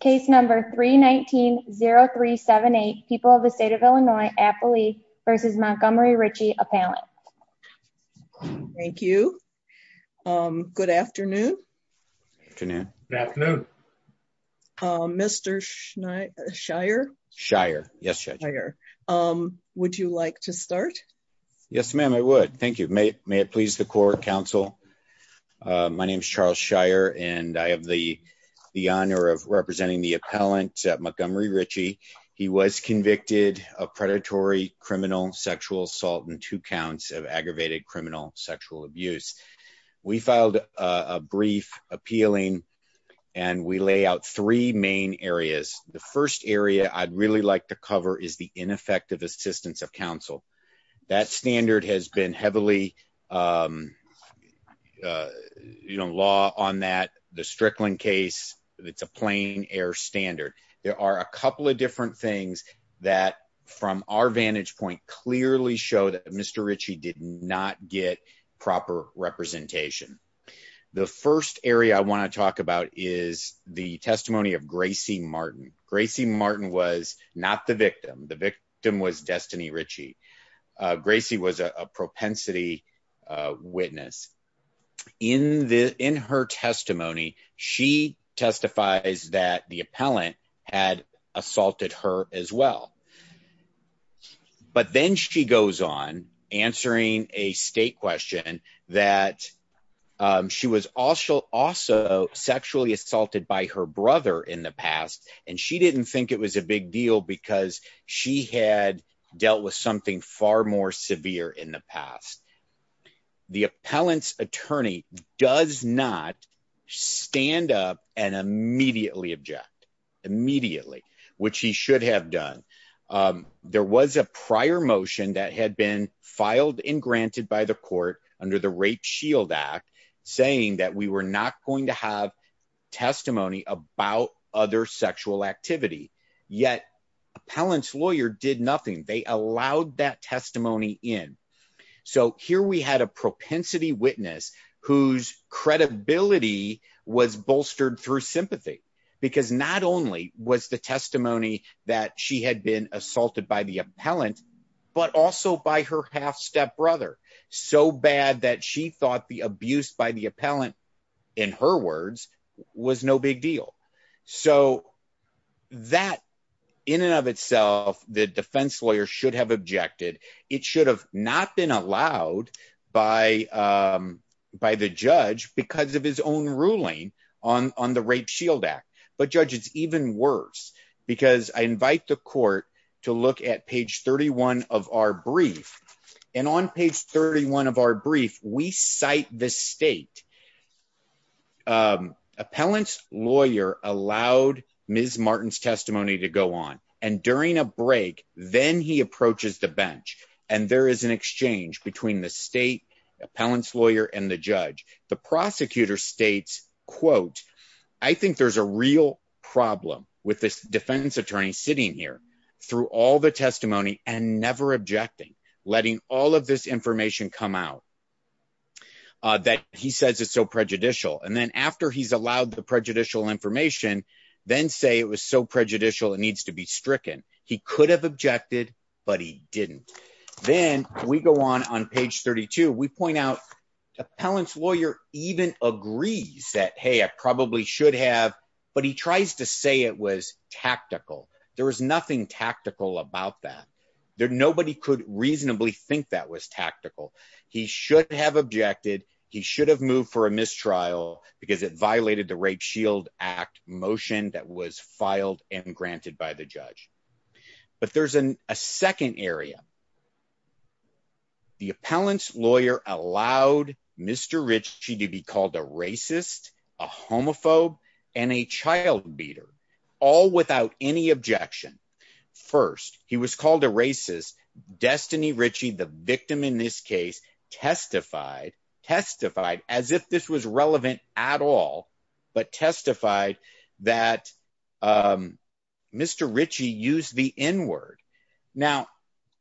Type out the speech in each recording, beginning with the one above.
case number 3190378 people of the state of illinois affily versus montgomery ritchie appellate thank you um good afternoon afternoon afternoon um mr shire shire yes um would you like to start yes ma'am i would thank you may may it please the court counsel uh my name is charles shire and i have the the honor of representing the appellant at montgomery ritchie he was convicted of predatory criminal sexual assault and two counts of aggravated criminal sexual abuse we filed a brief appealing and we lay out three main areas the first area i'd really like to cover is the ineffective assistance of counsel that standard has been heavily um uh you know law on that the strickland case it's a plain air standard there are a couple of different things that from our vantage point clearly show that mr ritchie did not get proper representation the first area i want to talk about is the testimony of gracie martin gracie martin was not the victim the victim was destiny ritchie uh gracie was a propensity witness in the in her testimony she testifies that the appellant had assaulted her as well but then she goes on answering a state question that she was also also sexually assaulted by her brother in the past and she didn't think it was a big deal because she had dealt with something far more severe in the past the appellant's attorney does not stand up and immediately object immediately which he should have done um there was a prior motion that had been filed and granted by the court under the rape shield act saying that we were not going to have testimony about other sexual activity yet appellant's lawyer did nothing they allowed that testimony in so here we had a propensity witness whose credibility was bolstered through sympathy because not only was the testimony that she had been assaulted by the appellant but also by her half-step brother so bad that she thought the abuse by the appellant in her words was no big deal so that in and of itself the defense lawyer should have objected it should have not been allowed by um by the judge because of his own ruling on on the rape shield act but judge it's even worse because i invite the court to look at page 31 of our brief and on page 31 of our brief we cite the state um appellant's lawyer allowed ms martin's testimony to go on and during a break then he approaches the bench and there is an exchange between the state appellant's lawyer and the prosecutor states quote i think there's a real problem with this defense attorney sitting here through all the testimony and never objecting letting all of this information come out that he says it's so prejudicial and then after he's allowed the prejudicial information then say it was so prejudicial it needs to be stricken he could have objected but he didn't then we go on on page 32 we point out appellant's lawyer even agrees that hey i probably should have but he tries to say it was tactical there was nothing tactical about that there nobody could reasonably think that was tactical he should have objected he should have moved for a mistrial because it violated the rape shield act motion that was filed and granted by the judge but there's a second area the appellant's lawyer allowed mr ritchie to be called a racist a homophobe and a child beater all without any objection first he was called a racist destiny ritchie the victim in this case testified testified as if this was relevant at all but testified that um now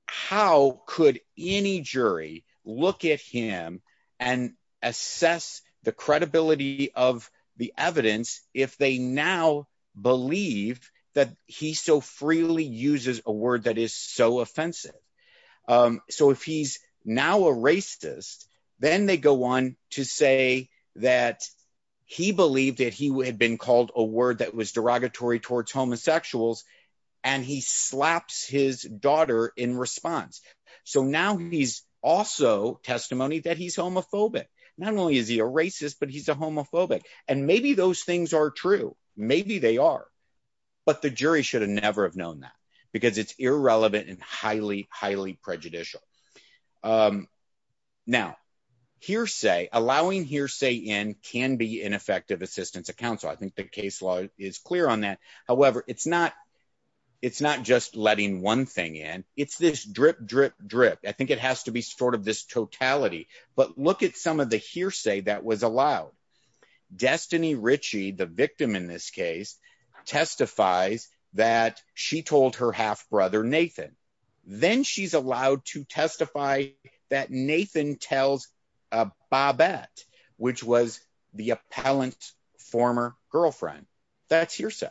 how could any jury look at him and assess the credibility of the evidence if they now believe that he so freely uses a word that is so offensive um so if he's now a racist then they go on to say that he believed that he had been called a word that was derogatory towards homosexuals and he slaps his daughter in response so now he's also testimony that he's homophobic not only is he a racist but he's a homophobic and maybe those things are true maybe they are but the jury should have never have known that because it's irrelevant and highly highly prejudicial um now hearsay allowing hearsay in can be ineffective assistance of however it's not it's not just letting one thing in it's this drip drip drip i think it has to be sort of this totality but look at some of the hearsay that was allowed destiny ritchie the victim in this case testifies that she told her half-brother nathan then she's allowed to testify that nathan tells a babette which was the appellant's former girlfriend that's hearsay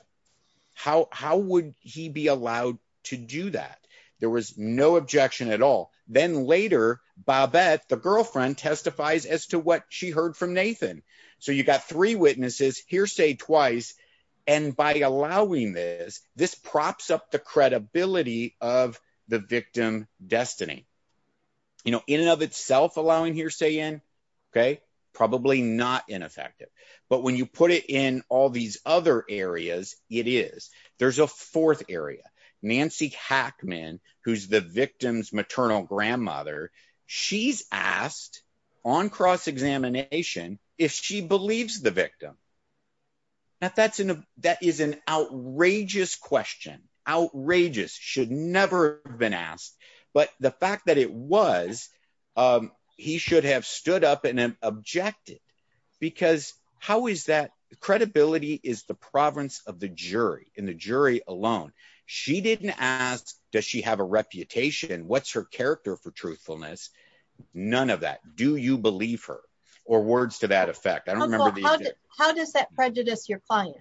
how how would he be allowed to do that there was no objection at all then later babette the girlfriend testifies as to what she heard from nathan so you got three witnesses hearsay twice and by allowing this this props up the credibility of the victim destiny you know in and of itself allowing hearsay in okay probably not ineffective but when you put it in all these other areas it is there's a fourth area nancy hackman who's the victim's maternal grandmother she's asked on cross-examination if she believes the victim that that's an that is an outrageous question outrageous should never have been asked but the fact that it was um he should have stood up and objected because how is that credibility is the province of the jury in the jury alone she didn't ask does she have a reputation what's her character for truthfulness none of that do you believe her or words to that effect i don't remember how does that prejudice your client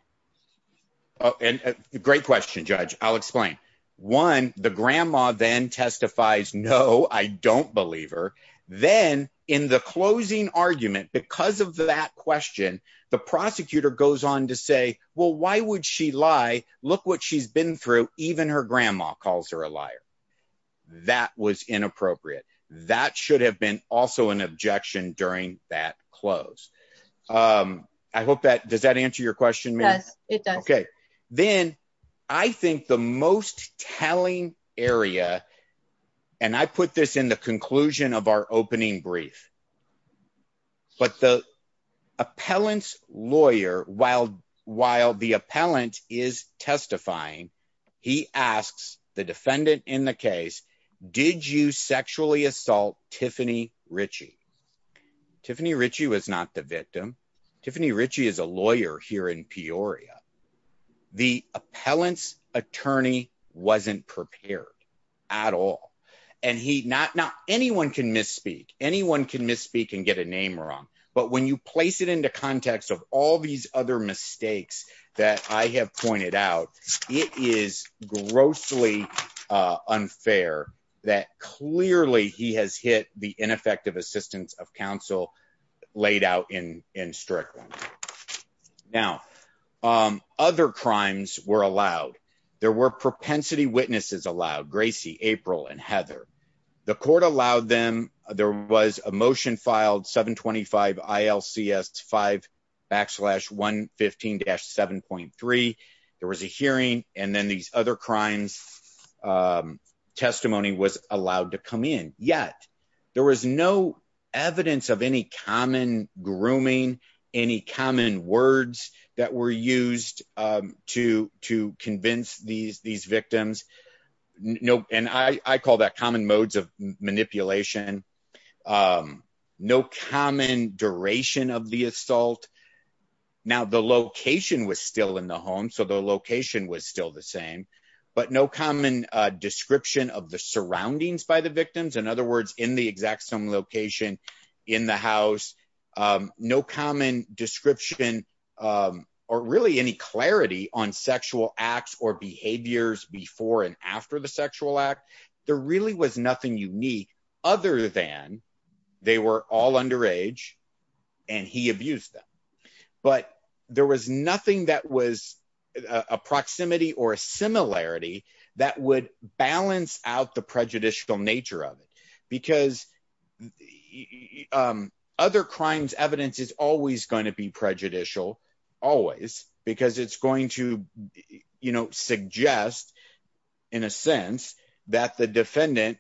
oh and a great question judge i'll explain one the grandma then testifies no i don't believe her then in the closing argument because of that question the prosecutor goes on to say well why would she lie look what she's been through even her grandma calls her a liar that was inappropriate that should have been also an objection during that close um i hope that does that answer your question yes it does okay then i think the most telling area and i put this in conclusion of our opening brief but the appellant's lawyer while while the appellant is testifying he asks the defendant in the case did you sexually assault tiffany ritchie tiffany ritchie was not the victim tiffany ritchie is a lawyer here in peoria the appellant's lawyer was not prepared at all and he not not anyone can misspeak anyone can misspeak and get a name wrong but when you place it into context of all these other mistakes that i have pointed out it is grossly uh unfair that clearly he has hit the ineffective assistance of counsel laid out in in strict now um other crimes were allowed there were propensity witnesses allowed gracie april and heather the court allowed them there was a motion filed 725 ilcs 5 backslash 115-7.3 there was a hearing and then these other crimes um testimony was allowed to come in yet there was no evidence of any common grooming any common words that were used um to to convince these these victims no and i i call that common modes of manipulation um no common duration of the assault now the location was still in the home so the description of the surroundings by the victims in other words in the exact same location in the house um no common description um or really any clarity on sexual acts or behaviors before and after the sexual act there really was nothing unique other than they were all under age and he that would balance out the prejudicial nature of it because um other crimes evidence is always going to be prejudicial always because it's going to you know suggest in a sense that the defendant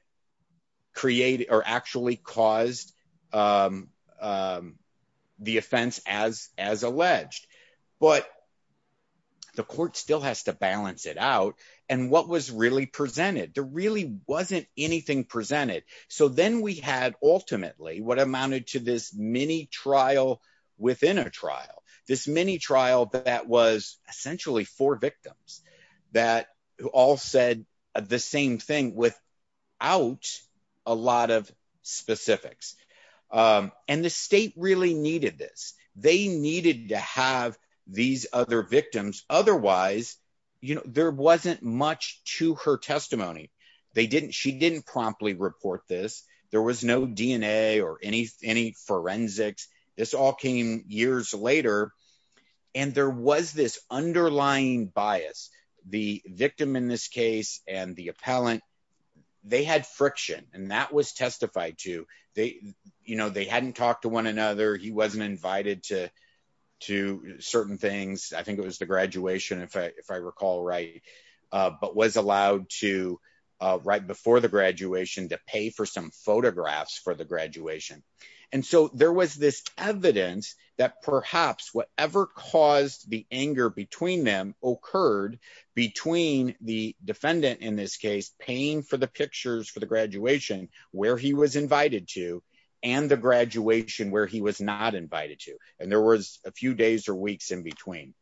create or actually caused um um the offense as as alleged but the court still has to balance it out and what was really presented there really wasn't anything presented so then we had ultimately what amounted to this mini trial within a trial this mini trial that was essentially four victims that all said the same thing without a lot of specifics um and the state really needed this they needed to have these other victims otherwise you know there wasn't much to her testimony they didn't she didn't promptly report this there was no dna or any any forensics this all came years later and there was this underlying bias the victim in this case and the appellant they had friction and that was testified to they you know they hadn't talked to one another he wasn't invited to certain things i think it was the graduation if i if i recall right uh but was allowed to right before the graduation to pay for some photographs for the graduation and so there was this evidence that perhaps whatever caused the anger between them occurred between the defendant in this case paying for the pictures for the graduation where he was invited to and the and there was a few days or weeks in between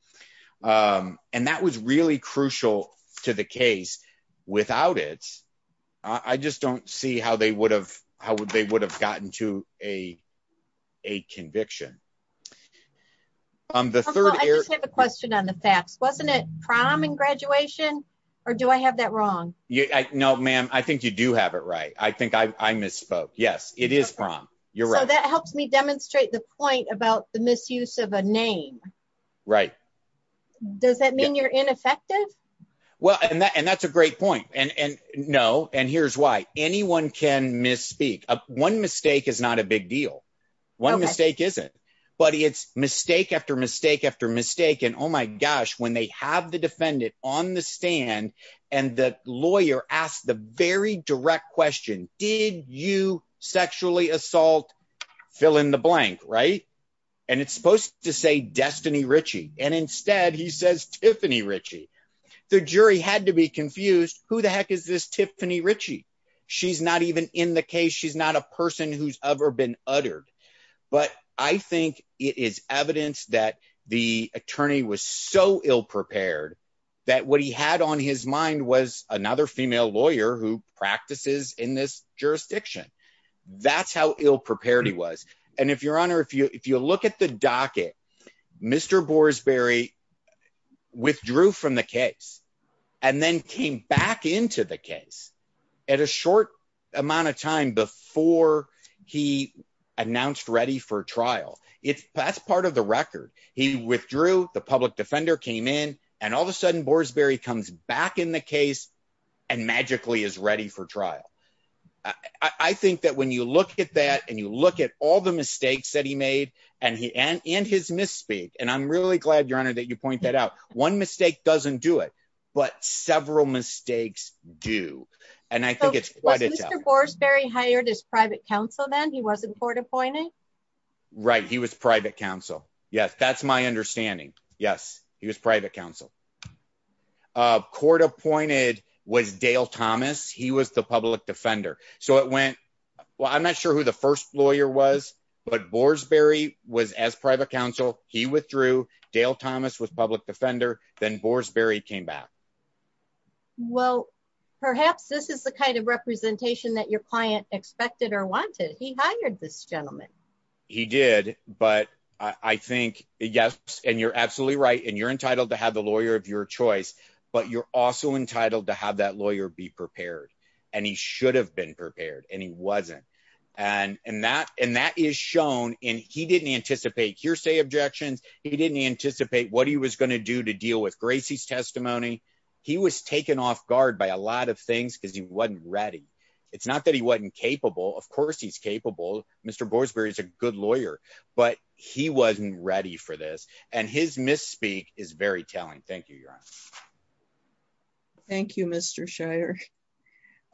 um and that was really crucial to the case without it i just don't see how they would have how they would have gotten to a a conviction on the third i just have a question on the facts wasn't it prom and graduation or do i have that wrong yeah no ma'am i think you do have it right i think i i misspoke yes it is prom you're right that helps me demonstrate the point about the misuse of a name right does that mean you're ineffective well and that and that's a great point and and no and here's why anyone can misspeak a one mistake is not a big deal one mistake isn't but it's mistake after mistake after mistake and oh my gosh when they have the defendant on the stand and the lawyer asked the very direct question did you sexually assault fill in the blank right and it's supposed to say destiny ritchie and instead he says tiffany ritchie the jury had to be confused who the heck is this tiffany ritchie she's not even in the case she's not a person who's ever been uttered but i think it is evidence that the attorney was so ill-prepared that what he had on his mind was another female lawyer who practices in this jurisdiction that's how ill-prepared he was and if your honor if you if you look at the docket mr boresberry withdrew from the case and then came back into the case at a short amount of time before he announced ready for trial it's that's part of the record he withdrew the public defender came in and all of a sudden boresberry comes back in the case and magically is ready for trial i i think that when you look at that and you look at all the mistakes that he made and he and and his misspeak and i'm really glad your honor that you point that out one mistake doesn't do it but several mistakes do and i think it's quite a job boresberry hired his private counsel then he was in court appointing right he was private counsel yes that's my understanding yes he was private counsel uh court appointed was dale thomas he was the public defender so it went well i'm not sure who the first lawyer was but boresberry was as private counsel he withdrew dale thomas was public defender then boresberry came back well perhaps this is the kind of representation that client expected or wanted he hired this gentleman he did but i i think yes and you're absolutely right and you're entitled to have the lawyer of your choice but you're also entitled to have that lawyer be prepared and he should have been prepared and he wasn't and and that and that is shown and he didn't anticipate hearsay objections he didn't anticipate what he was going to do to deal with gracie's testimony he was taken off guard by a lot of things because he wasn't ready it's not that he wasn't capable of course he's capable mr boresberry is a good lawyer but he wasn't ready for this and his misspeak is very telling thank you your honor thank you mr shire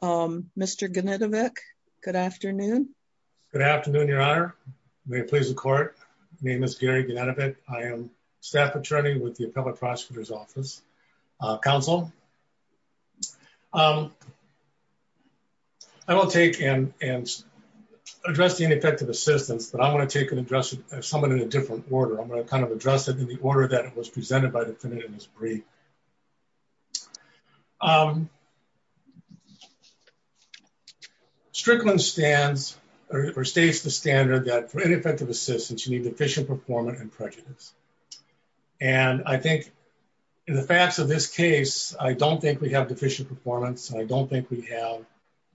um mr ganetovic good afternoon good afternoon your honor may it please the court my name is gary ganetovic i am staff attorney with the appellate prosecutor's office uh council um i will take and and address the ineffective assistance but i want to take an address of someone in a different order i'm going to kind of address it in the order that it was presented by the defendant in this brief um strickland stands or states the standard that for ineffective assistance you need efficient performance and prejudice and i think in the facts of this case i don't think we have deficient performance i don't think we have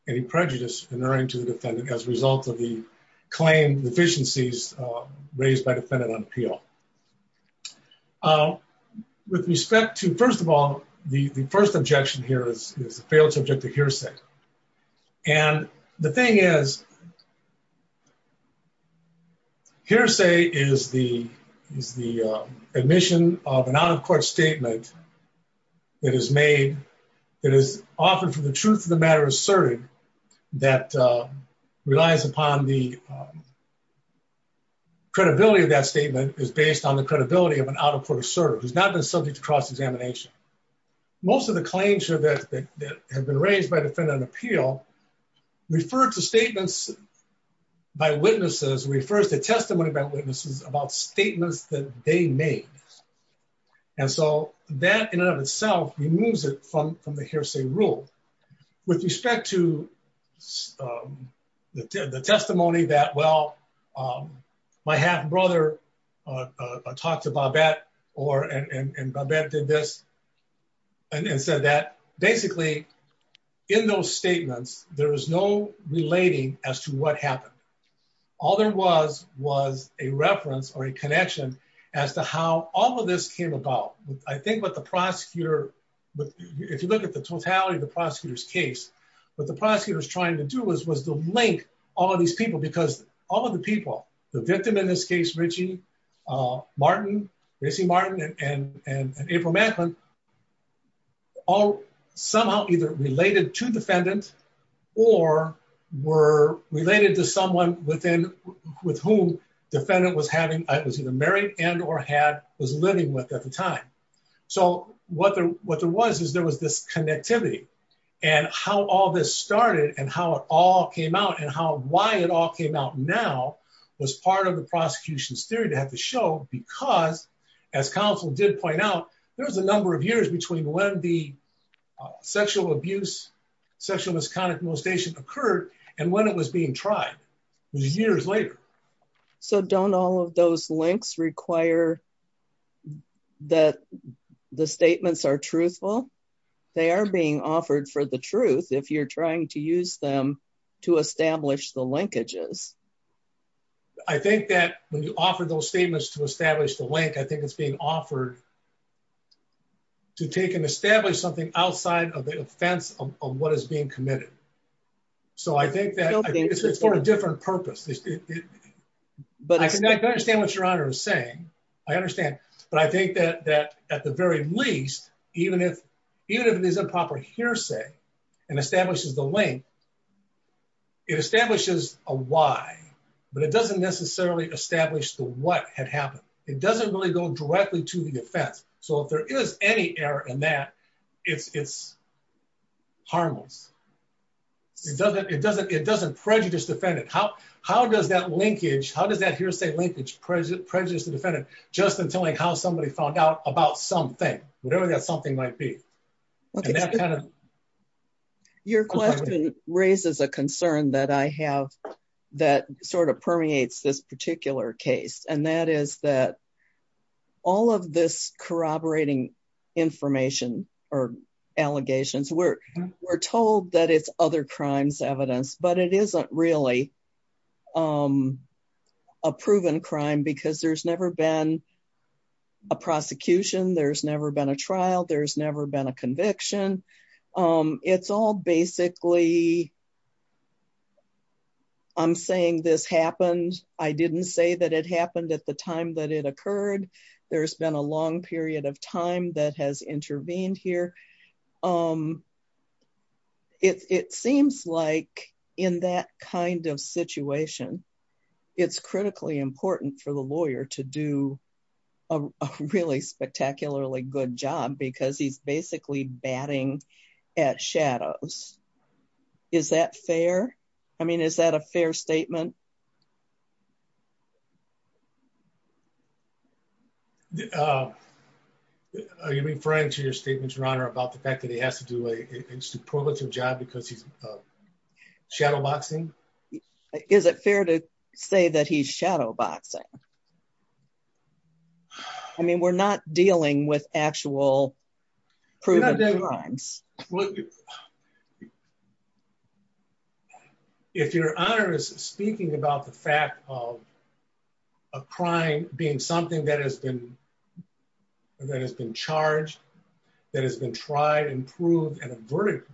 any prejudice inherent to the defendant as a result of the claim deficiencies uh raised by defendant on appeal uh with respect to first of all the the first objection here is the failed subject to hearsay and the thing is hearsay is the is the uh admission of an out-of-court statement that is made that is often for the truth of the matter asserted that uh relies upon the credibility of that statement is based on the credibility of an out-of-court assertive who's not been subject to cross-examination most of the claims here that that have been raised by an appeal refer to statements by witnesses refers to testimony about witnesses about statements that they made and so that in and of itself removes it from from the hearsay rule with respect to um the testimony that well um my half brother uh uh talked about that or and and babette did this and said that basically in those statements there was no relating as to what happened all there was was a reference or a connection as to how all of this came about i think what the prosecutor if you look at the totality of the prosecutor's case what the prosecutor's trying to do was was to link all of these people because all of the people the victim in this case richie uh martin racy martin and and and april macklin all somehow either related to defendant or were related to someone within with whom defendant was having i was either married and or had was living with at the time so what the what there was is there was this connectivity and how all this started and how it all came out and how why it all came out now was part of the prosecution's theory to have to show because as counsel did point out there was a number of years between when the sexual abuse sexual misconduct molestation occurred and when it was being tried years later so don't all of those links require that the statements are truthful they are being offered for the truth if you're trying to use them to establish the linkages i think that when you offer those statements to establish the link i think it's being offered to take and establish something outside of the offense of what is being committed so i think that it's for a different purpose but i can understand what your honor is saying i understand but i think that that at the and establishes the link it establishes a why but it doesn't necessarily establish the what had happened it doesn't really go directly to the defense so if there is any error in that it's it's harmless it doesn't it doesn't it doesn't prejudice defendant how how does that linkage how does that hearsay linkage present prejudice the defendant just until like how somebody found about something whatever that something might be your question raises a concern that i have that sort of permeates this particular case and that is that all of this corroborating information or allegations we're we're told that it's other crimes evidence but it isn't really um a proven crime because there's never been a prosecution there's never been a trial there's never been a conviction um it's all basically i'm saying this happened i didn't say that it happened at the time that it occurred there's been a long period of time that has intervened here um it seems like in that kind of situation it's critically important for the lawyer to do a really spectacularly good job because he's basically batting at shadows is that fair i mean is that a fair statement uh are you referring to your statements your honor about the fact that he has to do a superlative job because he's shadowboxing is it fair to say that he's shadowboxing i mean we're not dealing with actual proven crimes what if your honor is speaking about the fact of a crime being something that has been that has been charged that has been tried and proved and a verdict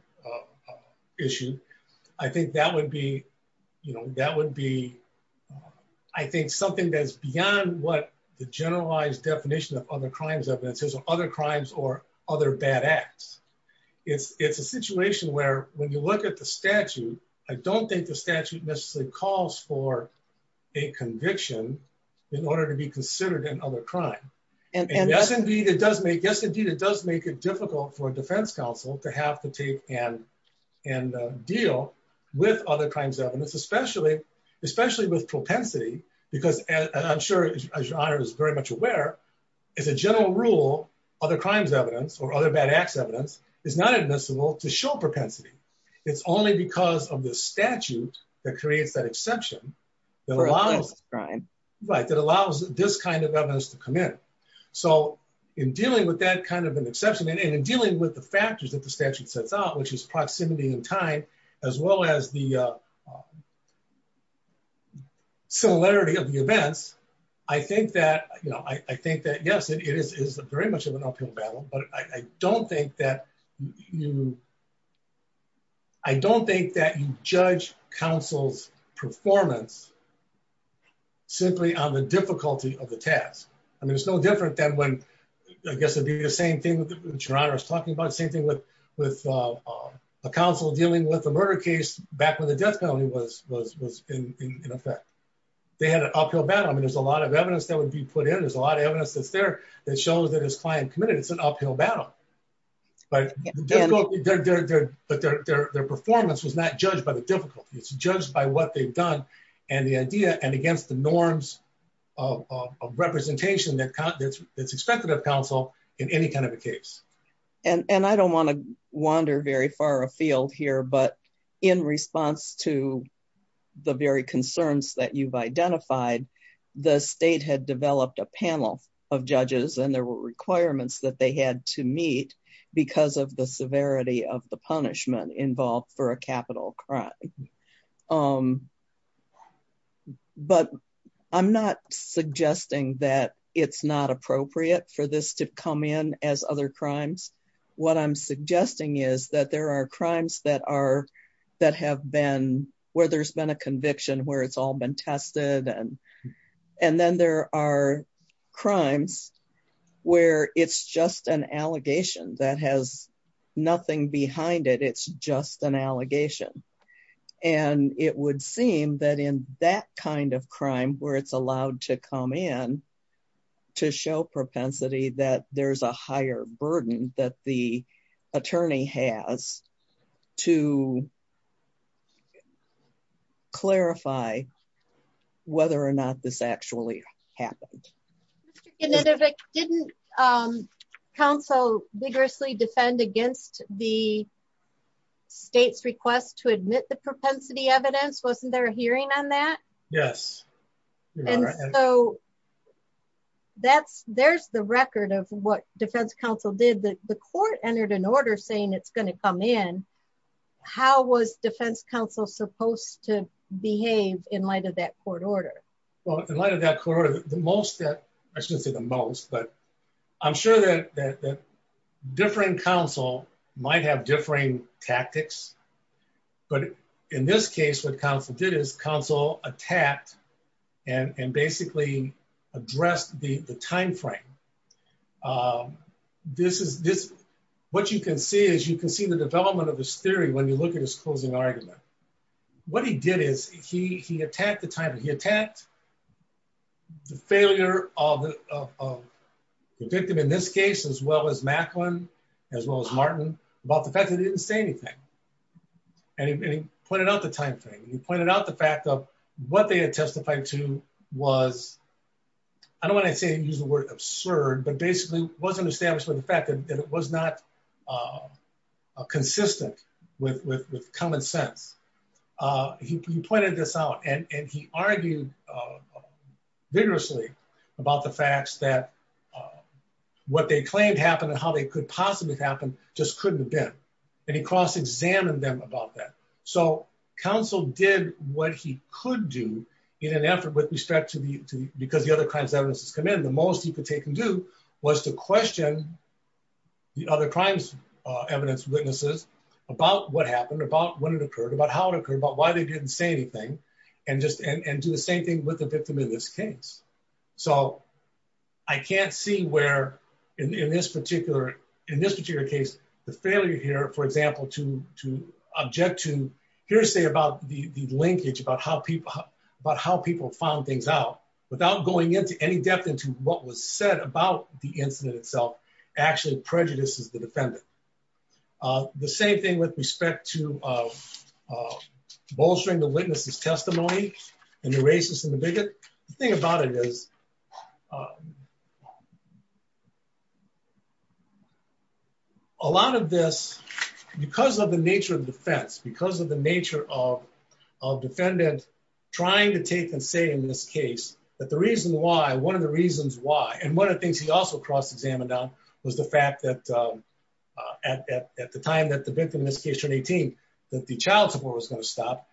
issue i think that would be you know that would be i think something that's beyond what the generalized definition of other crimes evidence is other crimes or other bad acts it's it's a situation where when you look at the statute i don't think the statute necessarily calls for a conviction in order to be considered an other crime and yes indeed it does make yes indeed it does make it difficult for a defense counsel to have to take and and deal with other evidence especially especially with propensity because as i'm sure as your honor is very much aware as a general rule other crimes evidence or other bad acts evidence is not admissible to show propensity it's only because of the statute that creates that exception that allows crime right that allows this kind of evidence to come in so in dealing with that kind of an exception and in dealing with the factors that the statute sets out which is the similarity of the events i think that you know i i think that yes it is is very much of an uphill battle but i don't think that you i don't think that you judge counsel's performance simply on the difficulty of the task i mean it's no different than when i guess it'd be the same thing which your honor is talking about same thing with with a counsel dealing with a murder case back when the death penalty was was was in in effect they had an uphill battle i mean there's a lot of evidence that would be put in there's a lot of evidence that's there that shows that his client committed it's an uphill battle but but their their performance was not judged by the difficulty it's judged by what they've done and the idea and against the norms of of representation that that's expected of in any kind of a case and and i don't want to wander very far afield here but in response to the very concerns that you've identified the state had developed a panel of judges and there were requirements that they had to meet because of the severity of the punishment involved for as other crimes what i'm suggesting is that there are crimes that are that have been where there's been a conviction where it's all been tested and and then there are crimes where it's just an allegation that has nothing behind it it's just an allegation and it would seem that in that kind of crime where it's allowed to come in to show propensity that there's a higher burden that the attorney has to clarify whether or not this actually happened didn't um council vigorously defend against the state's request to admit the propensity evidence wasn't there a hearing on that yes and so that's there's the record of what defense council did the court entered an order saying it's going to come in how was defense council supposed to behave in light of that court order well in light of that court the most that i shouldn't say the most but i'm sure that different council might have differing tactics but in this case what council did is council attacked and and basically addressed the the time frame um this is this what you can see is you can see the development of his theory when you look at his closing argument what he did is he he attacked the time he attacked the failure of the victim in this case as well as macklin as well as martin about the fact that he didn't say anything and he pointed out the time frame he pointed out the fact of what they had testified to was i don't want to say use the word absurd but basically wasn't established by the fact that it was not uh consistent with with with common sense uh he pointed this out and and he argued uh vigorously about the facts that what they claimed happened and how they could possibly happen just couldn't have been and he cross-examined them about that so council did what he could do in an effort with respect to the to because the other crimes evidences come in the most he could take and do was to question the other crimes uh evidence witnesses about what happened about when it occurred about how it occurred about why they didn't say anything and just and and do the same thing with the victim in this case so i can't see where in in this particular in this particular case the failure here for example to to object to hearsay about the the linkage about how people about how people found things out without going into any depth into what was said about the incident itself actually prejudices the defendant uh the same thing with respect to uh bolstering the witness's testimony and the racist and the bigot the thing about it is a lot of this because of the nature of defense because of the nature of of defendant trying to take and say in this case that the reason why one of the reasons why and one of the things he also cross-examined on was the fact that uh at at at the time that the victim in this case turned 18 that the child support was going to stop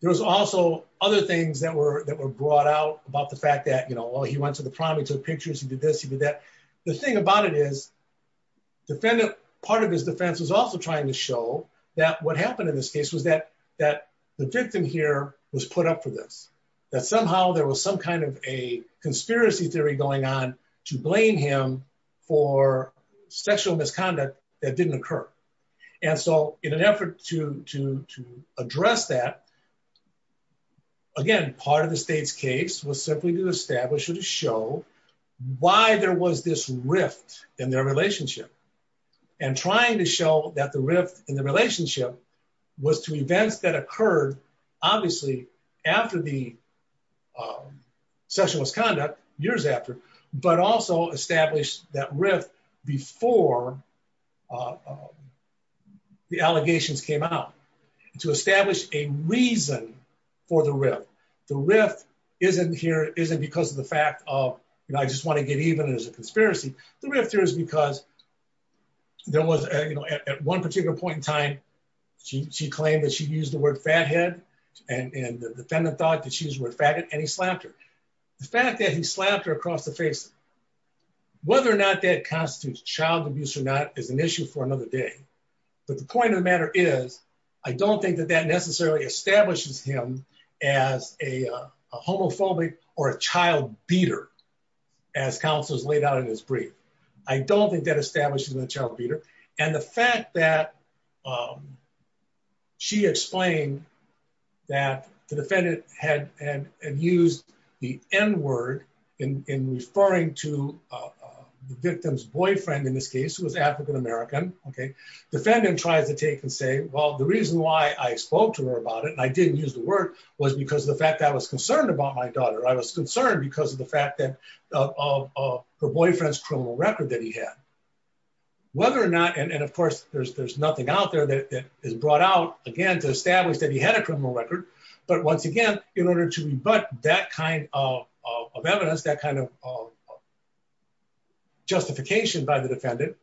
there was also other things that were that were brought out about the fact that you know well he went to the prom he took pictures he did this he did that the thing about it is defendant part of his defense was also trying to show that what happened in this case was that that the victim here was put up for this that somehow there was some kind of a conspiracy theory going on to blame him for sexual misconduct that didn't occur and so in an effort to to to address that again part of the state's case was simply to establish or to show why there was this rift in their relationship and trying to show that the rift in the relationship was to events that occurred obviously after the um sexual misconduct years after but also established that rift before uh the allegations came out to establish a reason for the rift the rift isn't here isn't because of the fact of you know i just want to get even as a conspiracy the rift here is because there was you know at one particular point in time she she claimed that she used the word fathead and and the defendant thought that she was worth faggot and he slapped her the fact that he slapped her across the face whether or not that constitutes child abuse or not is an issue for another day but the point of the matter is i don't think that that necessarily establishes him as a homophobic or a child beater as counselors laid out in his brief i don't think that establishes the child beater and the fact that um she explained that the defendant had and used the n word in in referring to uh the victim's boyfriend in this case who was african-american okay defendant tries to take and say well the reason why i spoke to her about it and i didn't use the word was because of the fact that i was concerned about my daughter i was concerned because of the fact that of her boyfriend's criminal record that he had whether or not and of course there's there's nothing out there that is brought out again to establish that he had a criminal record but once again in order to rebut that kind of of evidence that kind of justification by the defendant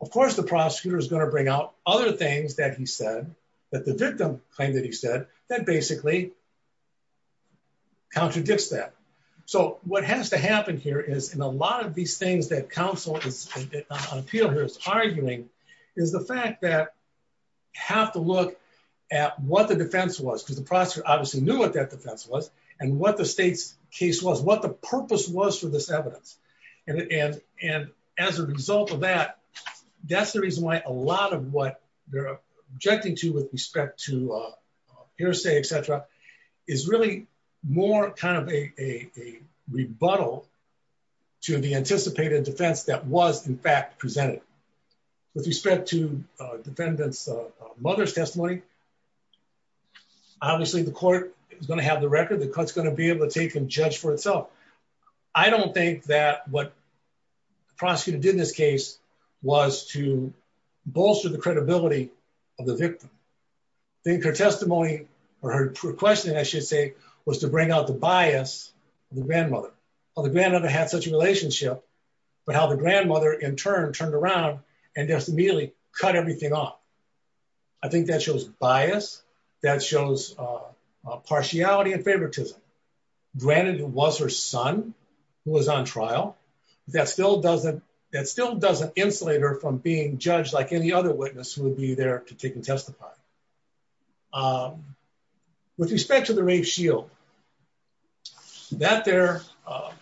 of course the prosecutor is going to bring out other things that he said that the victim claimed that he said that basically contradicts that so what has to happen here is in a lot of these things that counsel is on appeal here is arguing is the fact that have to look at what the defense was because the prosecutor obviously knew what that defense was and what the state's case was what the purpose was for this evidence and and and as a result of that that's the reason why a lot of what they're objecting to with respect to uh hearsay etc is really more kind of a a rebuttal to the anticipated defense that was in fact presented with respect to defendants mother's testimony obviously the court is going to have the record the court's going to be able to take and judge for itself i don't think that what the prosecutor did in this case was to bolster the credibility of the victim i think her testimony or her questioning i should say was to bring out the bias of the grandmother well the grandmother had such a relationship but how the grandmother in turn turned around and just immediately cut everything off i think that shows bias that shows uh partiality and favoritism granted it was her son who was on trial that still doesn't that still doesn't insulate her from being judged like any other witness who would be there to take and testify um with respect to the rape shield that there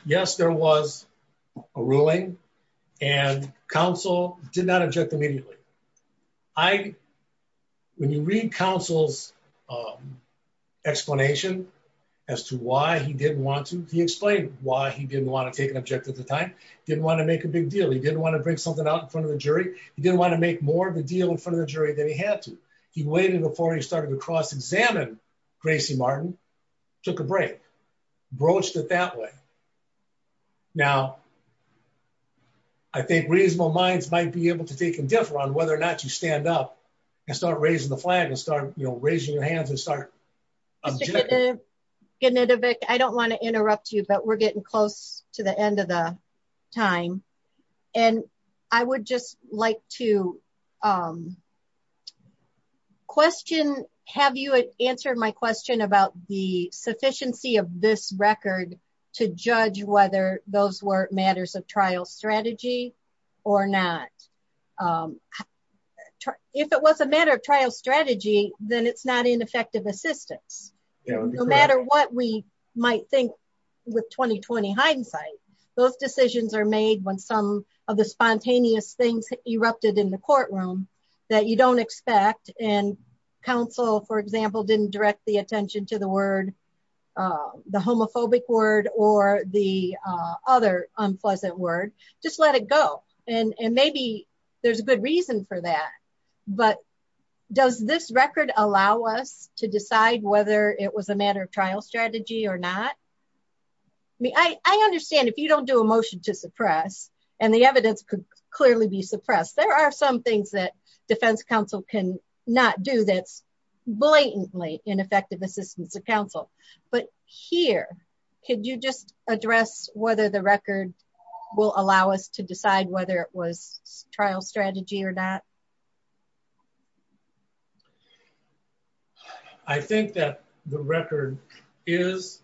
yes there was a ruling and counsel did not object immediately i when you read counsel's explanation as to why he didn't want to he explained why he didn't want to take an object at the time didn't want to make a big deal he didn't want to bring something out in front of the jury he didn't want to make more of a deal in front of the jury than he had to he waited before he started to cross-examine gracie martin took a break broached it that way now i think reasonable minds might be able to take and differ on whether or not you stand up and start raising the flag and start you know raising your hands and start getting it a bit i don't want to interrupt you but we're getting close to the end of the time and i would just like to um question have you answered my question about the sufficiency of this record to judge whether those were matters of trial strategy or not um if it was a matter of trial strategy then it's not ineffective assistance no matter what we might think with 2020 hindsight those decisions are made when some of the spontaneous things erupted in the courtroom that you don't expect and counsel for example didn't direct the attention to the word uh the homophobic word or the uh other unpleasant word just let it go and and maybe there's a good reason for that but does this record allow us to decide whether it was a matter of trial strategy or not i mean i i understand if you don't do a motion to suppress and the evidence could clearly be not do this blatantly ineffective assistance of counsel but here could you just address whether the record will allow us to decide whether it was trial strategy or not i think that the record is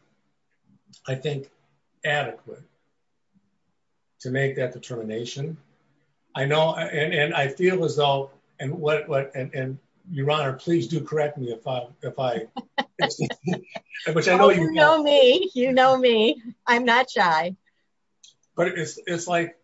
i think adequate to make that determination i know and and i feel as and what what and your honor please do correct me if i if i which i know you know me you know me i'm not shy but it's it's like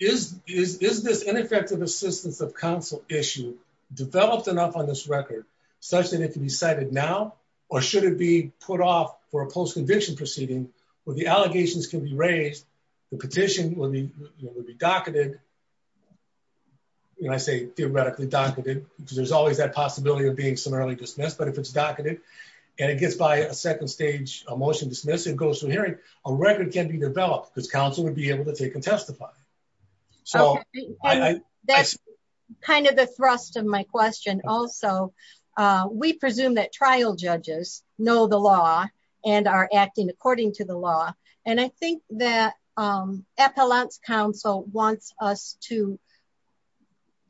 is is this ineffective assistance of counsel issue developed enough on this record such that it can be cited now or should it be put off for a post-conviction proceeding where the allegations can be raised the petition would be would be docketed and i say theoretically docketed because there's always that possibility of being summarily dismissed but if it's docketed and it gets by a second stage motion dismiss it goes to hearing a record can be developed because counsel would be able to take and testify so that's kind of the thrust of my question also uh we presume that trial judges know the law and are acting according to the law and i think that um appellant's counsel wants us to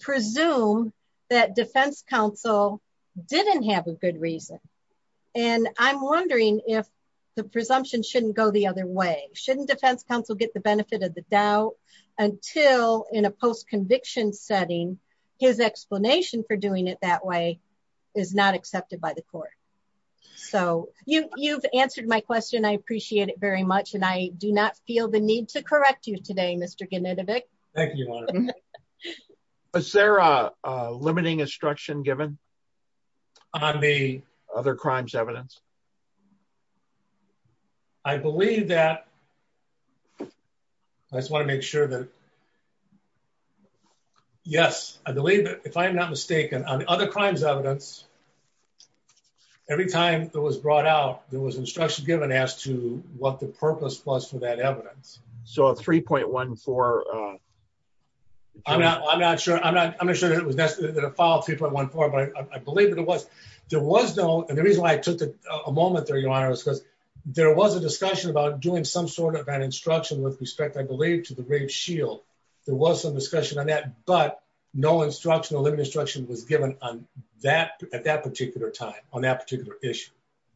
presume that defense counsel didn't have a good reason and i'm wondering if the presumption shouldn't go the other way shouldn't defense counsel get the benefit of the doubt until in a post-conviction setting his explanation for doing it that way is not accepted by the court so you you've answered my question i appreciate it very much and i do not feel the need to correct you today mr genetic thank you is there a limiting instruction given on the other crimes evidence i believe that i just want to make sure that yes i believe that if i am not mistaken on other crimes evidence every time it was brought out there was instruction given as to what the purpose was for that evidence so a 3.14 i'm not i'm not sure i'm not i'm not sure that it was necessary to follow 3.14 but i believe that it was there was no and the reason why i took a moment there your honor is because there was a discussion about doing some sort of an instruction with respect i believe to the rape shield there was some discussion on that but no instruction or limit instruction was given on that at that time on that particular issue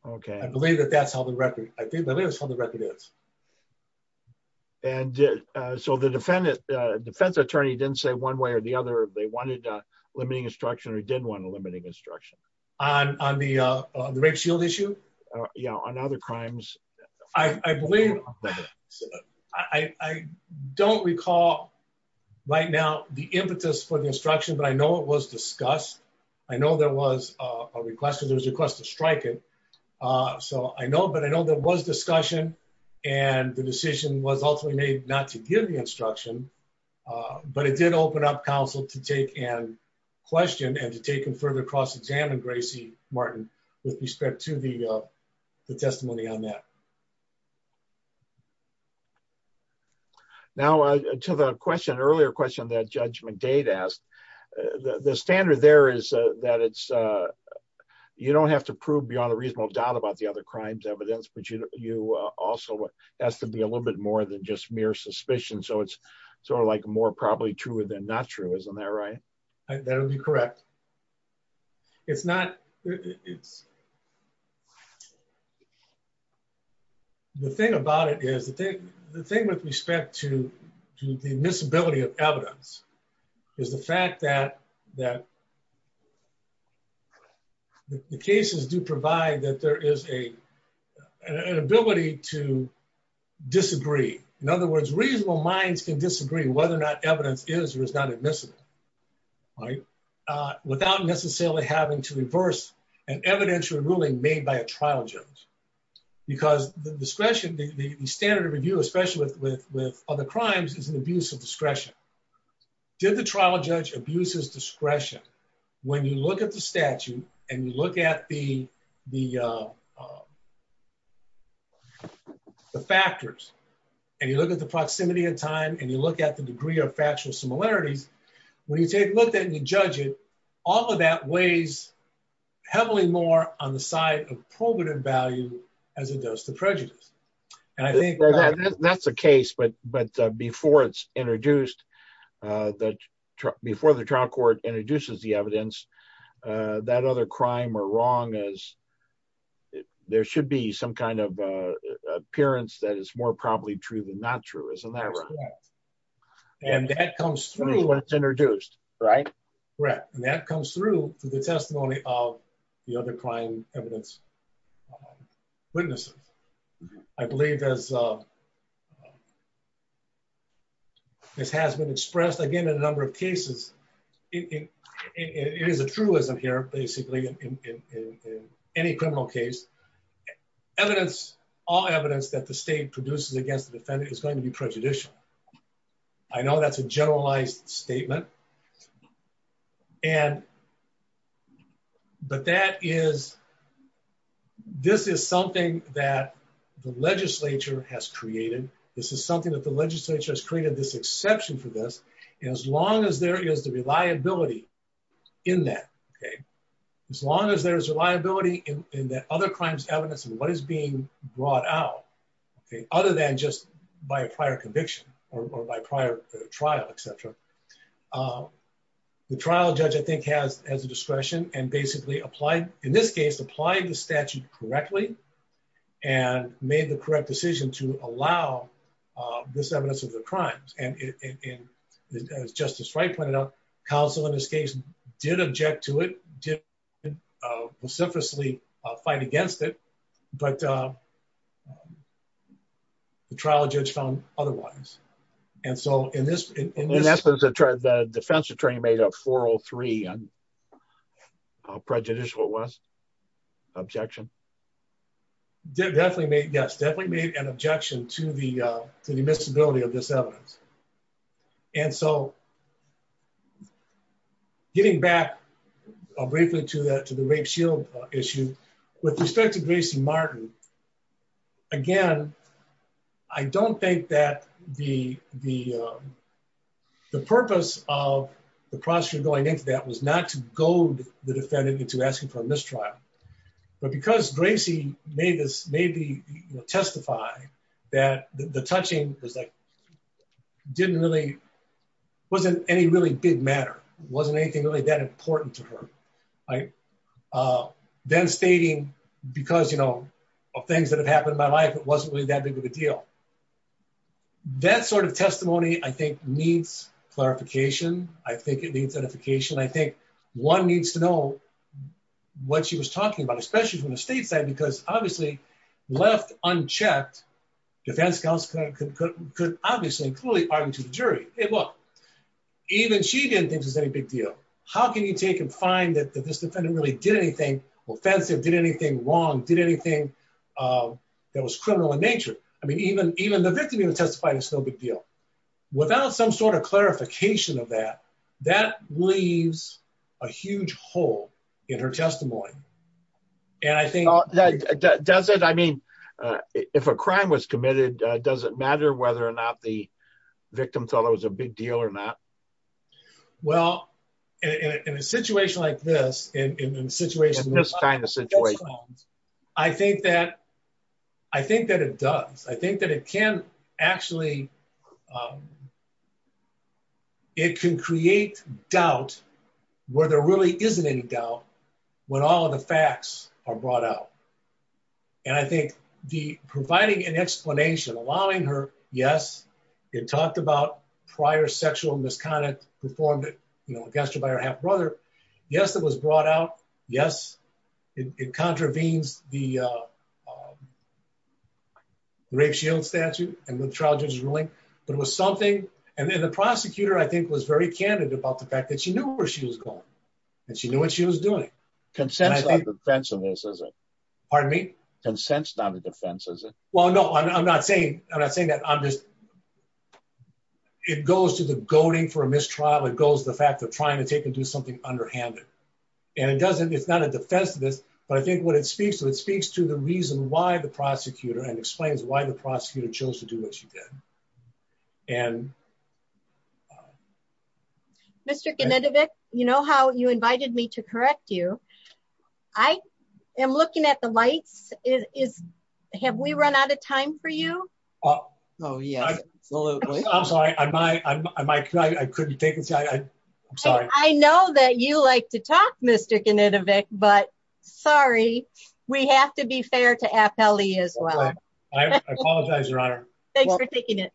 okay i believe that that's how the record i think that is how the record is and uh so the defendant uh defense attorney didn't say one way or the other they wanted uh limiting instruction or didn't want a limiting instruction on on the uh the rape shield issue yeah on other crimes i i believe i i don't recall right now the impetus for the instruction but i know it was discussed i know there was a request there was a request to strike it uh so i know but i know there was discussion and the decision was ultimately made not to give the instruction uh but it did open up counsel to take and question and to take him further cross-examined gracie martin with respect to the uh the testimony on that now uh to the question earlier question that judge mcdade asked the the standard there is uh that it's uh you don't have to prove beyond a reasonable doubt about the other crimes evidence but you you uh also has to be a little bit more than just mere suspicion so it's sort of like more probably truer than not true isn't that right that would be correct it's not it's not the thing about it is the thing the thing with respect to to the admissibility of evidence is the fact that that the cases do provide that there is a an ability to disagree in other words reasonable minds can disagree whether or not evidence is or is not admissible right uh without necessarily having to reverse an evidentiary ruling made by a trial judge because the discretion the standard of review especially with with with other crimes is an abuse of discretion did the trial judge abuse his discretion when you look at the statute and you look at the the uh the factors and you look at the proximity and time and you look at the degree of factual similarities when you take a look at and you judge it all of that weighs heavily more on the side of provative value as it does to prejudice and i think that's a case but but before it's introduced uh that before the trial court introduces the evidence uh that other crime or wrong as there should be some kind of uh appearance that is more probably true than not true isn't that correct and that comes through when it's introduced right correct and that comes through through the testimony of the other crime evidence witnesses i believe as uh this has been expressed again in a number of cases it it is a truism here basically in in in any criminal case evidence all evidence that the i know that's a generalized statement and but that is this is something that the legislature has created this is something that the legislature has created this exception for this and as long as there is the reliability in that okay as long as there is reliability in in the other crimes evidence and what is being brought out okay other than just by a prior conviction or by prior trial etc um the trial judge i think has as a discretion and basically applied in this case applying the statute correctly and made the correct decision to allow uh this evidence of the crimes and in as justice right pointed out counsel in this case did object to it didn't uh vociferously fight against it but uh the trial judge found otherwise and so in this and that's what the defense attorney made up 403 and prejudicial it was objection definitely made yes definitely made an objection to the uh to the miscibility of this i'll briefly to that to the rape shield issue with respect to gracie martin again i don't think that the the um the purpose of the prosecutor going into that was not to goad the defendant into asking for a mistrial but because gracie made this maybe you know testify that the touching was like didn't really wasn't any really big matter wasn't anything really that important to her right uh then stating because you know of things that have happened in my life it wasn't really that big of a deal that sort of testimony i think needs clarification i think it needs edification i think one needs to know what she was talking about especially from the state side because obviously left unchecked defense counsel could could obviously clearly argue to the jury hey look even she didn't think there's any big deal how can you take and find that this defendant really did anything offensive did anything wrong did anything uh that was criminal in nature i mean even even the victim even testified it's no big deal without some sort of clarification of that that leaves a huge hole in her testimony and i think does it i mean uh if a crime was committed does it matter whether or not the victim thought it was a big deal or not well in a situation like this in a situation this kind of situation i think that i think that it does i think that it can actually um it can create doubt where there really isn't any doubt when all the facts are brought out and i think the providing an explanation allowing her yes it talked about prior sexual misconduct performed you know against her by her half brother yes it was brought out yes it contravenes the uh rape shield statute and with trial judges ruling but it was something and then the prosecutor i think was very candid about the fact that she knew where she was going and she knew what she was doing consensual defense of racism pardon me consent's not a defense is it well no i'm not saying i'm not saying that i'm just it goes to the goading for a mistrial it goes the fact of trying to take and do something underhanded and it doesn't it's not a defense of this but i think what it speaks to it speaks to the reason why the prosecutor and explains why the prosecutor chose to do what she did and Mr. Genetovic you know how you invited me to correct you i am looking at the lights is have we run out of time for you oh oh yeah absolutely i'm sorry i'm my i'm i couldn't think i'm sorry i know that you like to talk Mr. Genetovic but sorry we have to be as well i apologize your honor thanks for taking it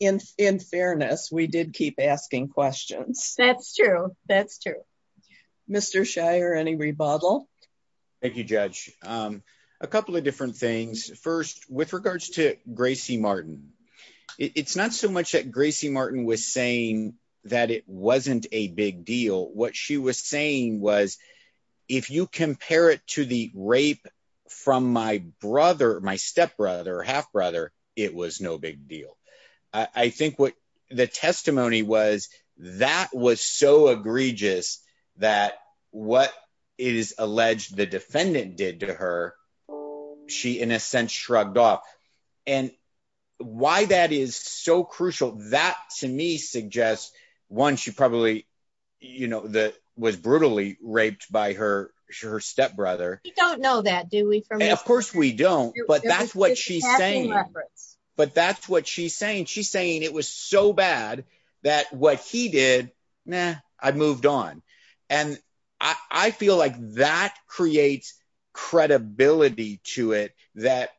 in in fairness we did keep asking questions that's true that's true Mr. Shire any rebuttal thank you judge um a couple of different things first with regards to Gracie Martin it's not so much that Gracie Martin was saying that it wasn't a big deal what she was saying was if you compare it to the rape from my brother my stepbrother half-brother it was no big deal i think what the testimony was that was so egregious that what it is alleged the defendant did to her she in a sense shrugged off and why that is so crucial that to me suggests one she probably you know that was brutally raped by her her stepbrother you don't know that do we for me of course we don't but that's what she's saying but that's what she's saying she's saying it was so bad that what he did yeah i moved on and i i feel like that creates credibility to it that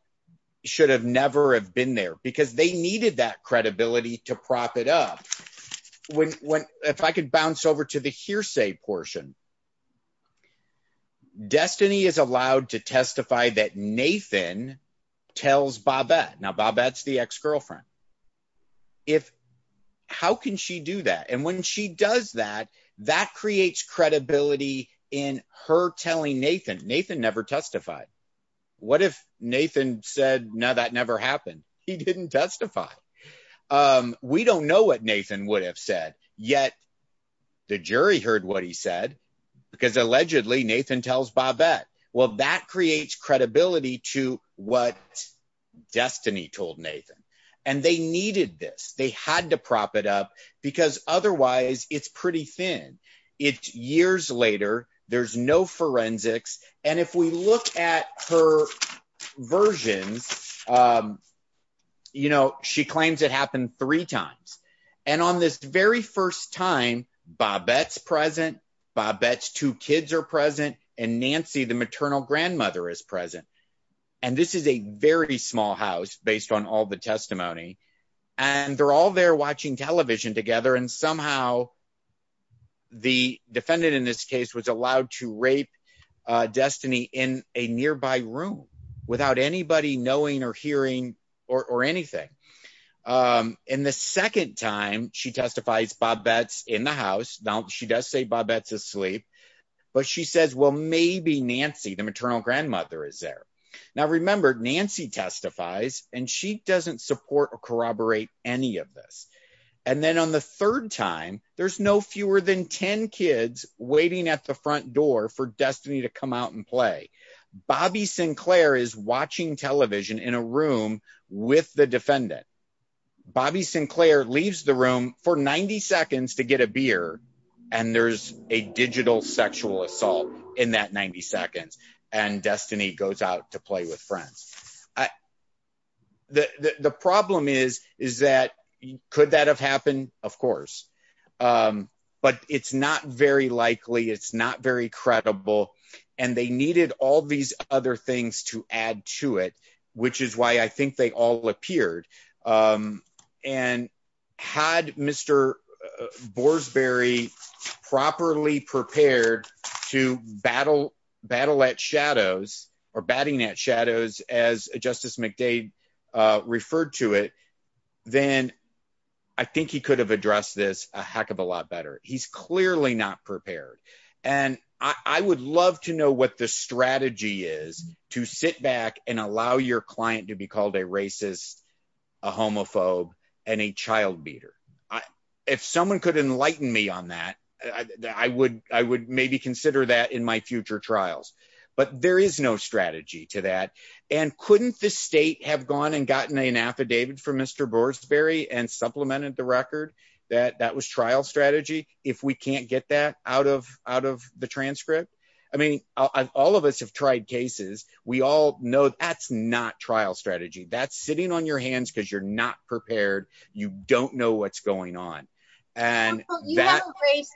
should have never have been there because they needed that credibility to prop it up when if i could bounce over to the hearsay portion destiny is allowed to testify that Nathan tells Bobette now Bobette's the ex-girlfriend if how can she do that and when she does that that creates credibility in her telling Nathan Nathan never testified what if Nathan said no that never happened he didn't testify we don't know what Nathan would have said yet the jury heard what he said because allegedly Nathan tells Bobette well that creates credibility to what destiny told Nathan and they needed this they had to prop it up because otherwise it's pretty thin it's years later there's no forensics and if we look at her versions you know she claims it happened three times and on this very first time Bobette's present Bobette's two kids are present and Nancy the maternal grandmother is and this is a very small house based on all the testimony and they're all there watching television together and somehow the defendant in this case was allowed to rape Destiny in a nearby room without anybody knowing or hearing or or anything in the second time she testifies Bobette's in the house now she does say Bobette's asleep but she says well maybe Nancy the maternal grandmother is there now remember Nancy testifies and she doesn't support or corroborate any of this and then on the third time there's no fewer than 10 kids waiting at the front door for Destiny to come out and play Bobby Sinclair is watching television in a room with the defendant Bobby Sinclair leaves the room for 90 seconds to get a beer and there's a digital sexual assault in that 90 seconds and Destiny goes out to play with friends I the the problem is is that could that have happened of course but it's not very likely it's not very credible and they needed all these other things to add to it which is why I think they all appeared and had Mr. Boersberry properly prepared to battle battle at shadows or batting at shadows as Justice McDade uh referred to it then I think he could have addressed this a heck of a lot better he's clearly not prepared and I I would love to know what the strategy is to sit back and allow your could enlighten me on that I would I would maybe consider that in my future trials but there is no strategy to that and couldn't the state have gone and gotten an affidavit from Mr. Boersberry and supplemented the record that that was trial strategy if we can't get that out of out of the transcript I mean all of us have tried cases we all know that's not trial strategy that's because you're not prepared you don't know what's going on and that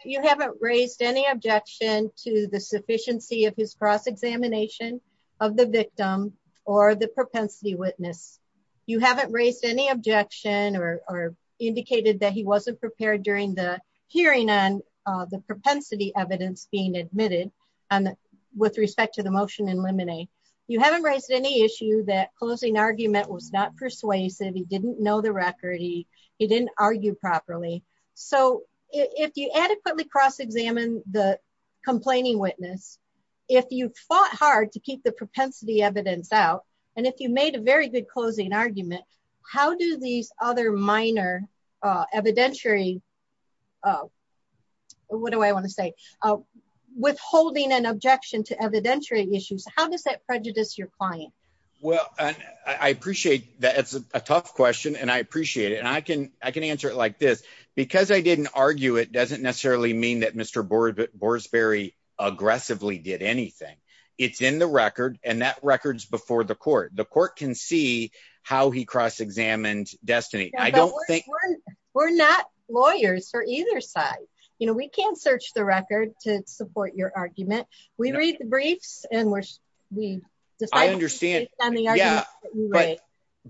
you haven't raised any objection to the sufficiency of his cross-examination of the victim or the propensity witness you haven't raised any objection or indicated that he wasn't prepared during the hearing on the propensity evidence being admitted and with respect to the motion in limine you haven't raised any issue that closing argument was not persuasive he didn't know the record he he didn't argue properly so if you adequately cross-examine the complaining witness if you fought hard to keep the propensity evidence out and if you made a very good closing argument how do these other minor evidentiary what do I want to say withholding an objection to evidentiary issues how does that prejudice your client well I appreciate that it's a tough question and I appreciate it and I can I can answer it like this because I didn't argue it doesn't necessarily mean that Mr. Boersberry aggressively did anything it's in the record and that record's before the court the court can see how he cross-examined Destiny I don't think we're not lawyers for either side you know we can't to support your argument we read the briefs and we're we I understand yeah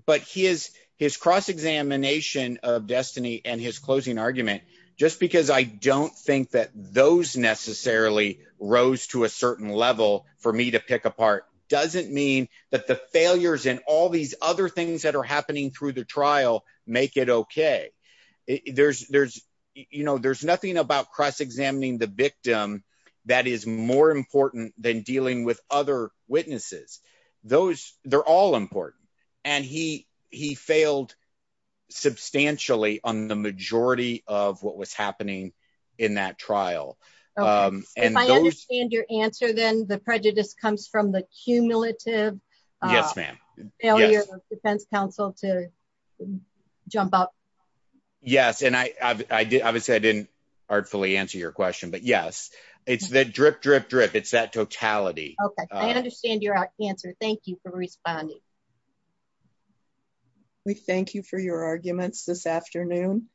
but he is his cross-examination of Destiny and his closing argument just because I don't think that those necessarily rose to a certain level for me to pick apart doesn't mean that the failures and all these other things that are happening through the trial make it okay there's there's you know there's nothing about cross-examining the victim that is more important than dealing with other witnesses those they're all important and he he failed substantially on the majority of what was happening in that trial um and if I understand your answer then the prejudice comes from the artfully answer your question but yes it's that drip drip drip it's that totality okay I understand your answer thank you for responding we thank you for your arguments this afternoon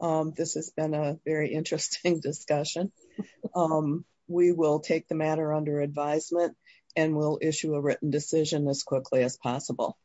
um this has been a very interesting discussion um we will take the matter under advisement and we'll issue a written decision as quickly as possible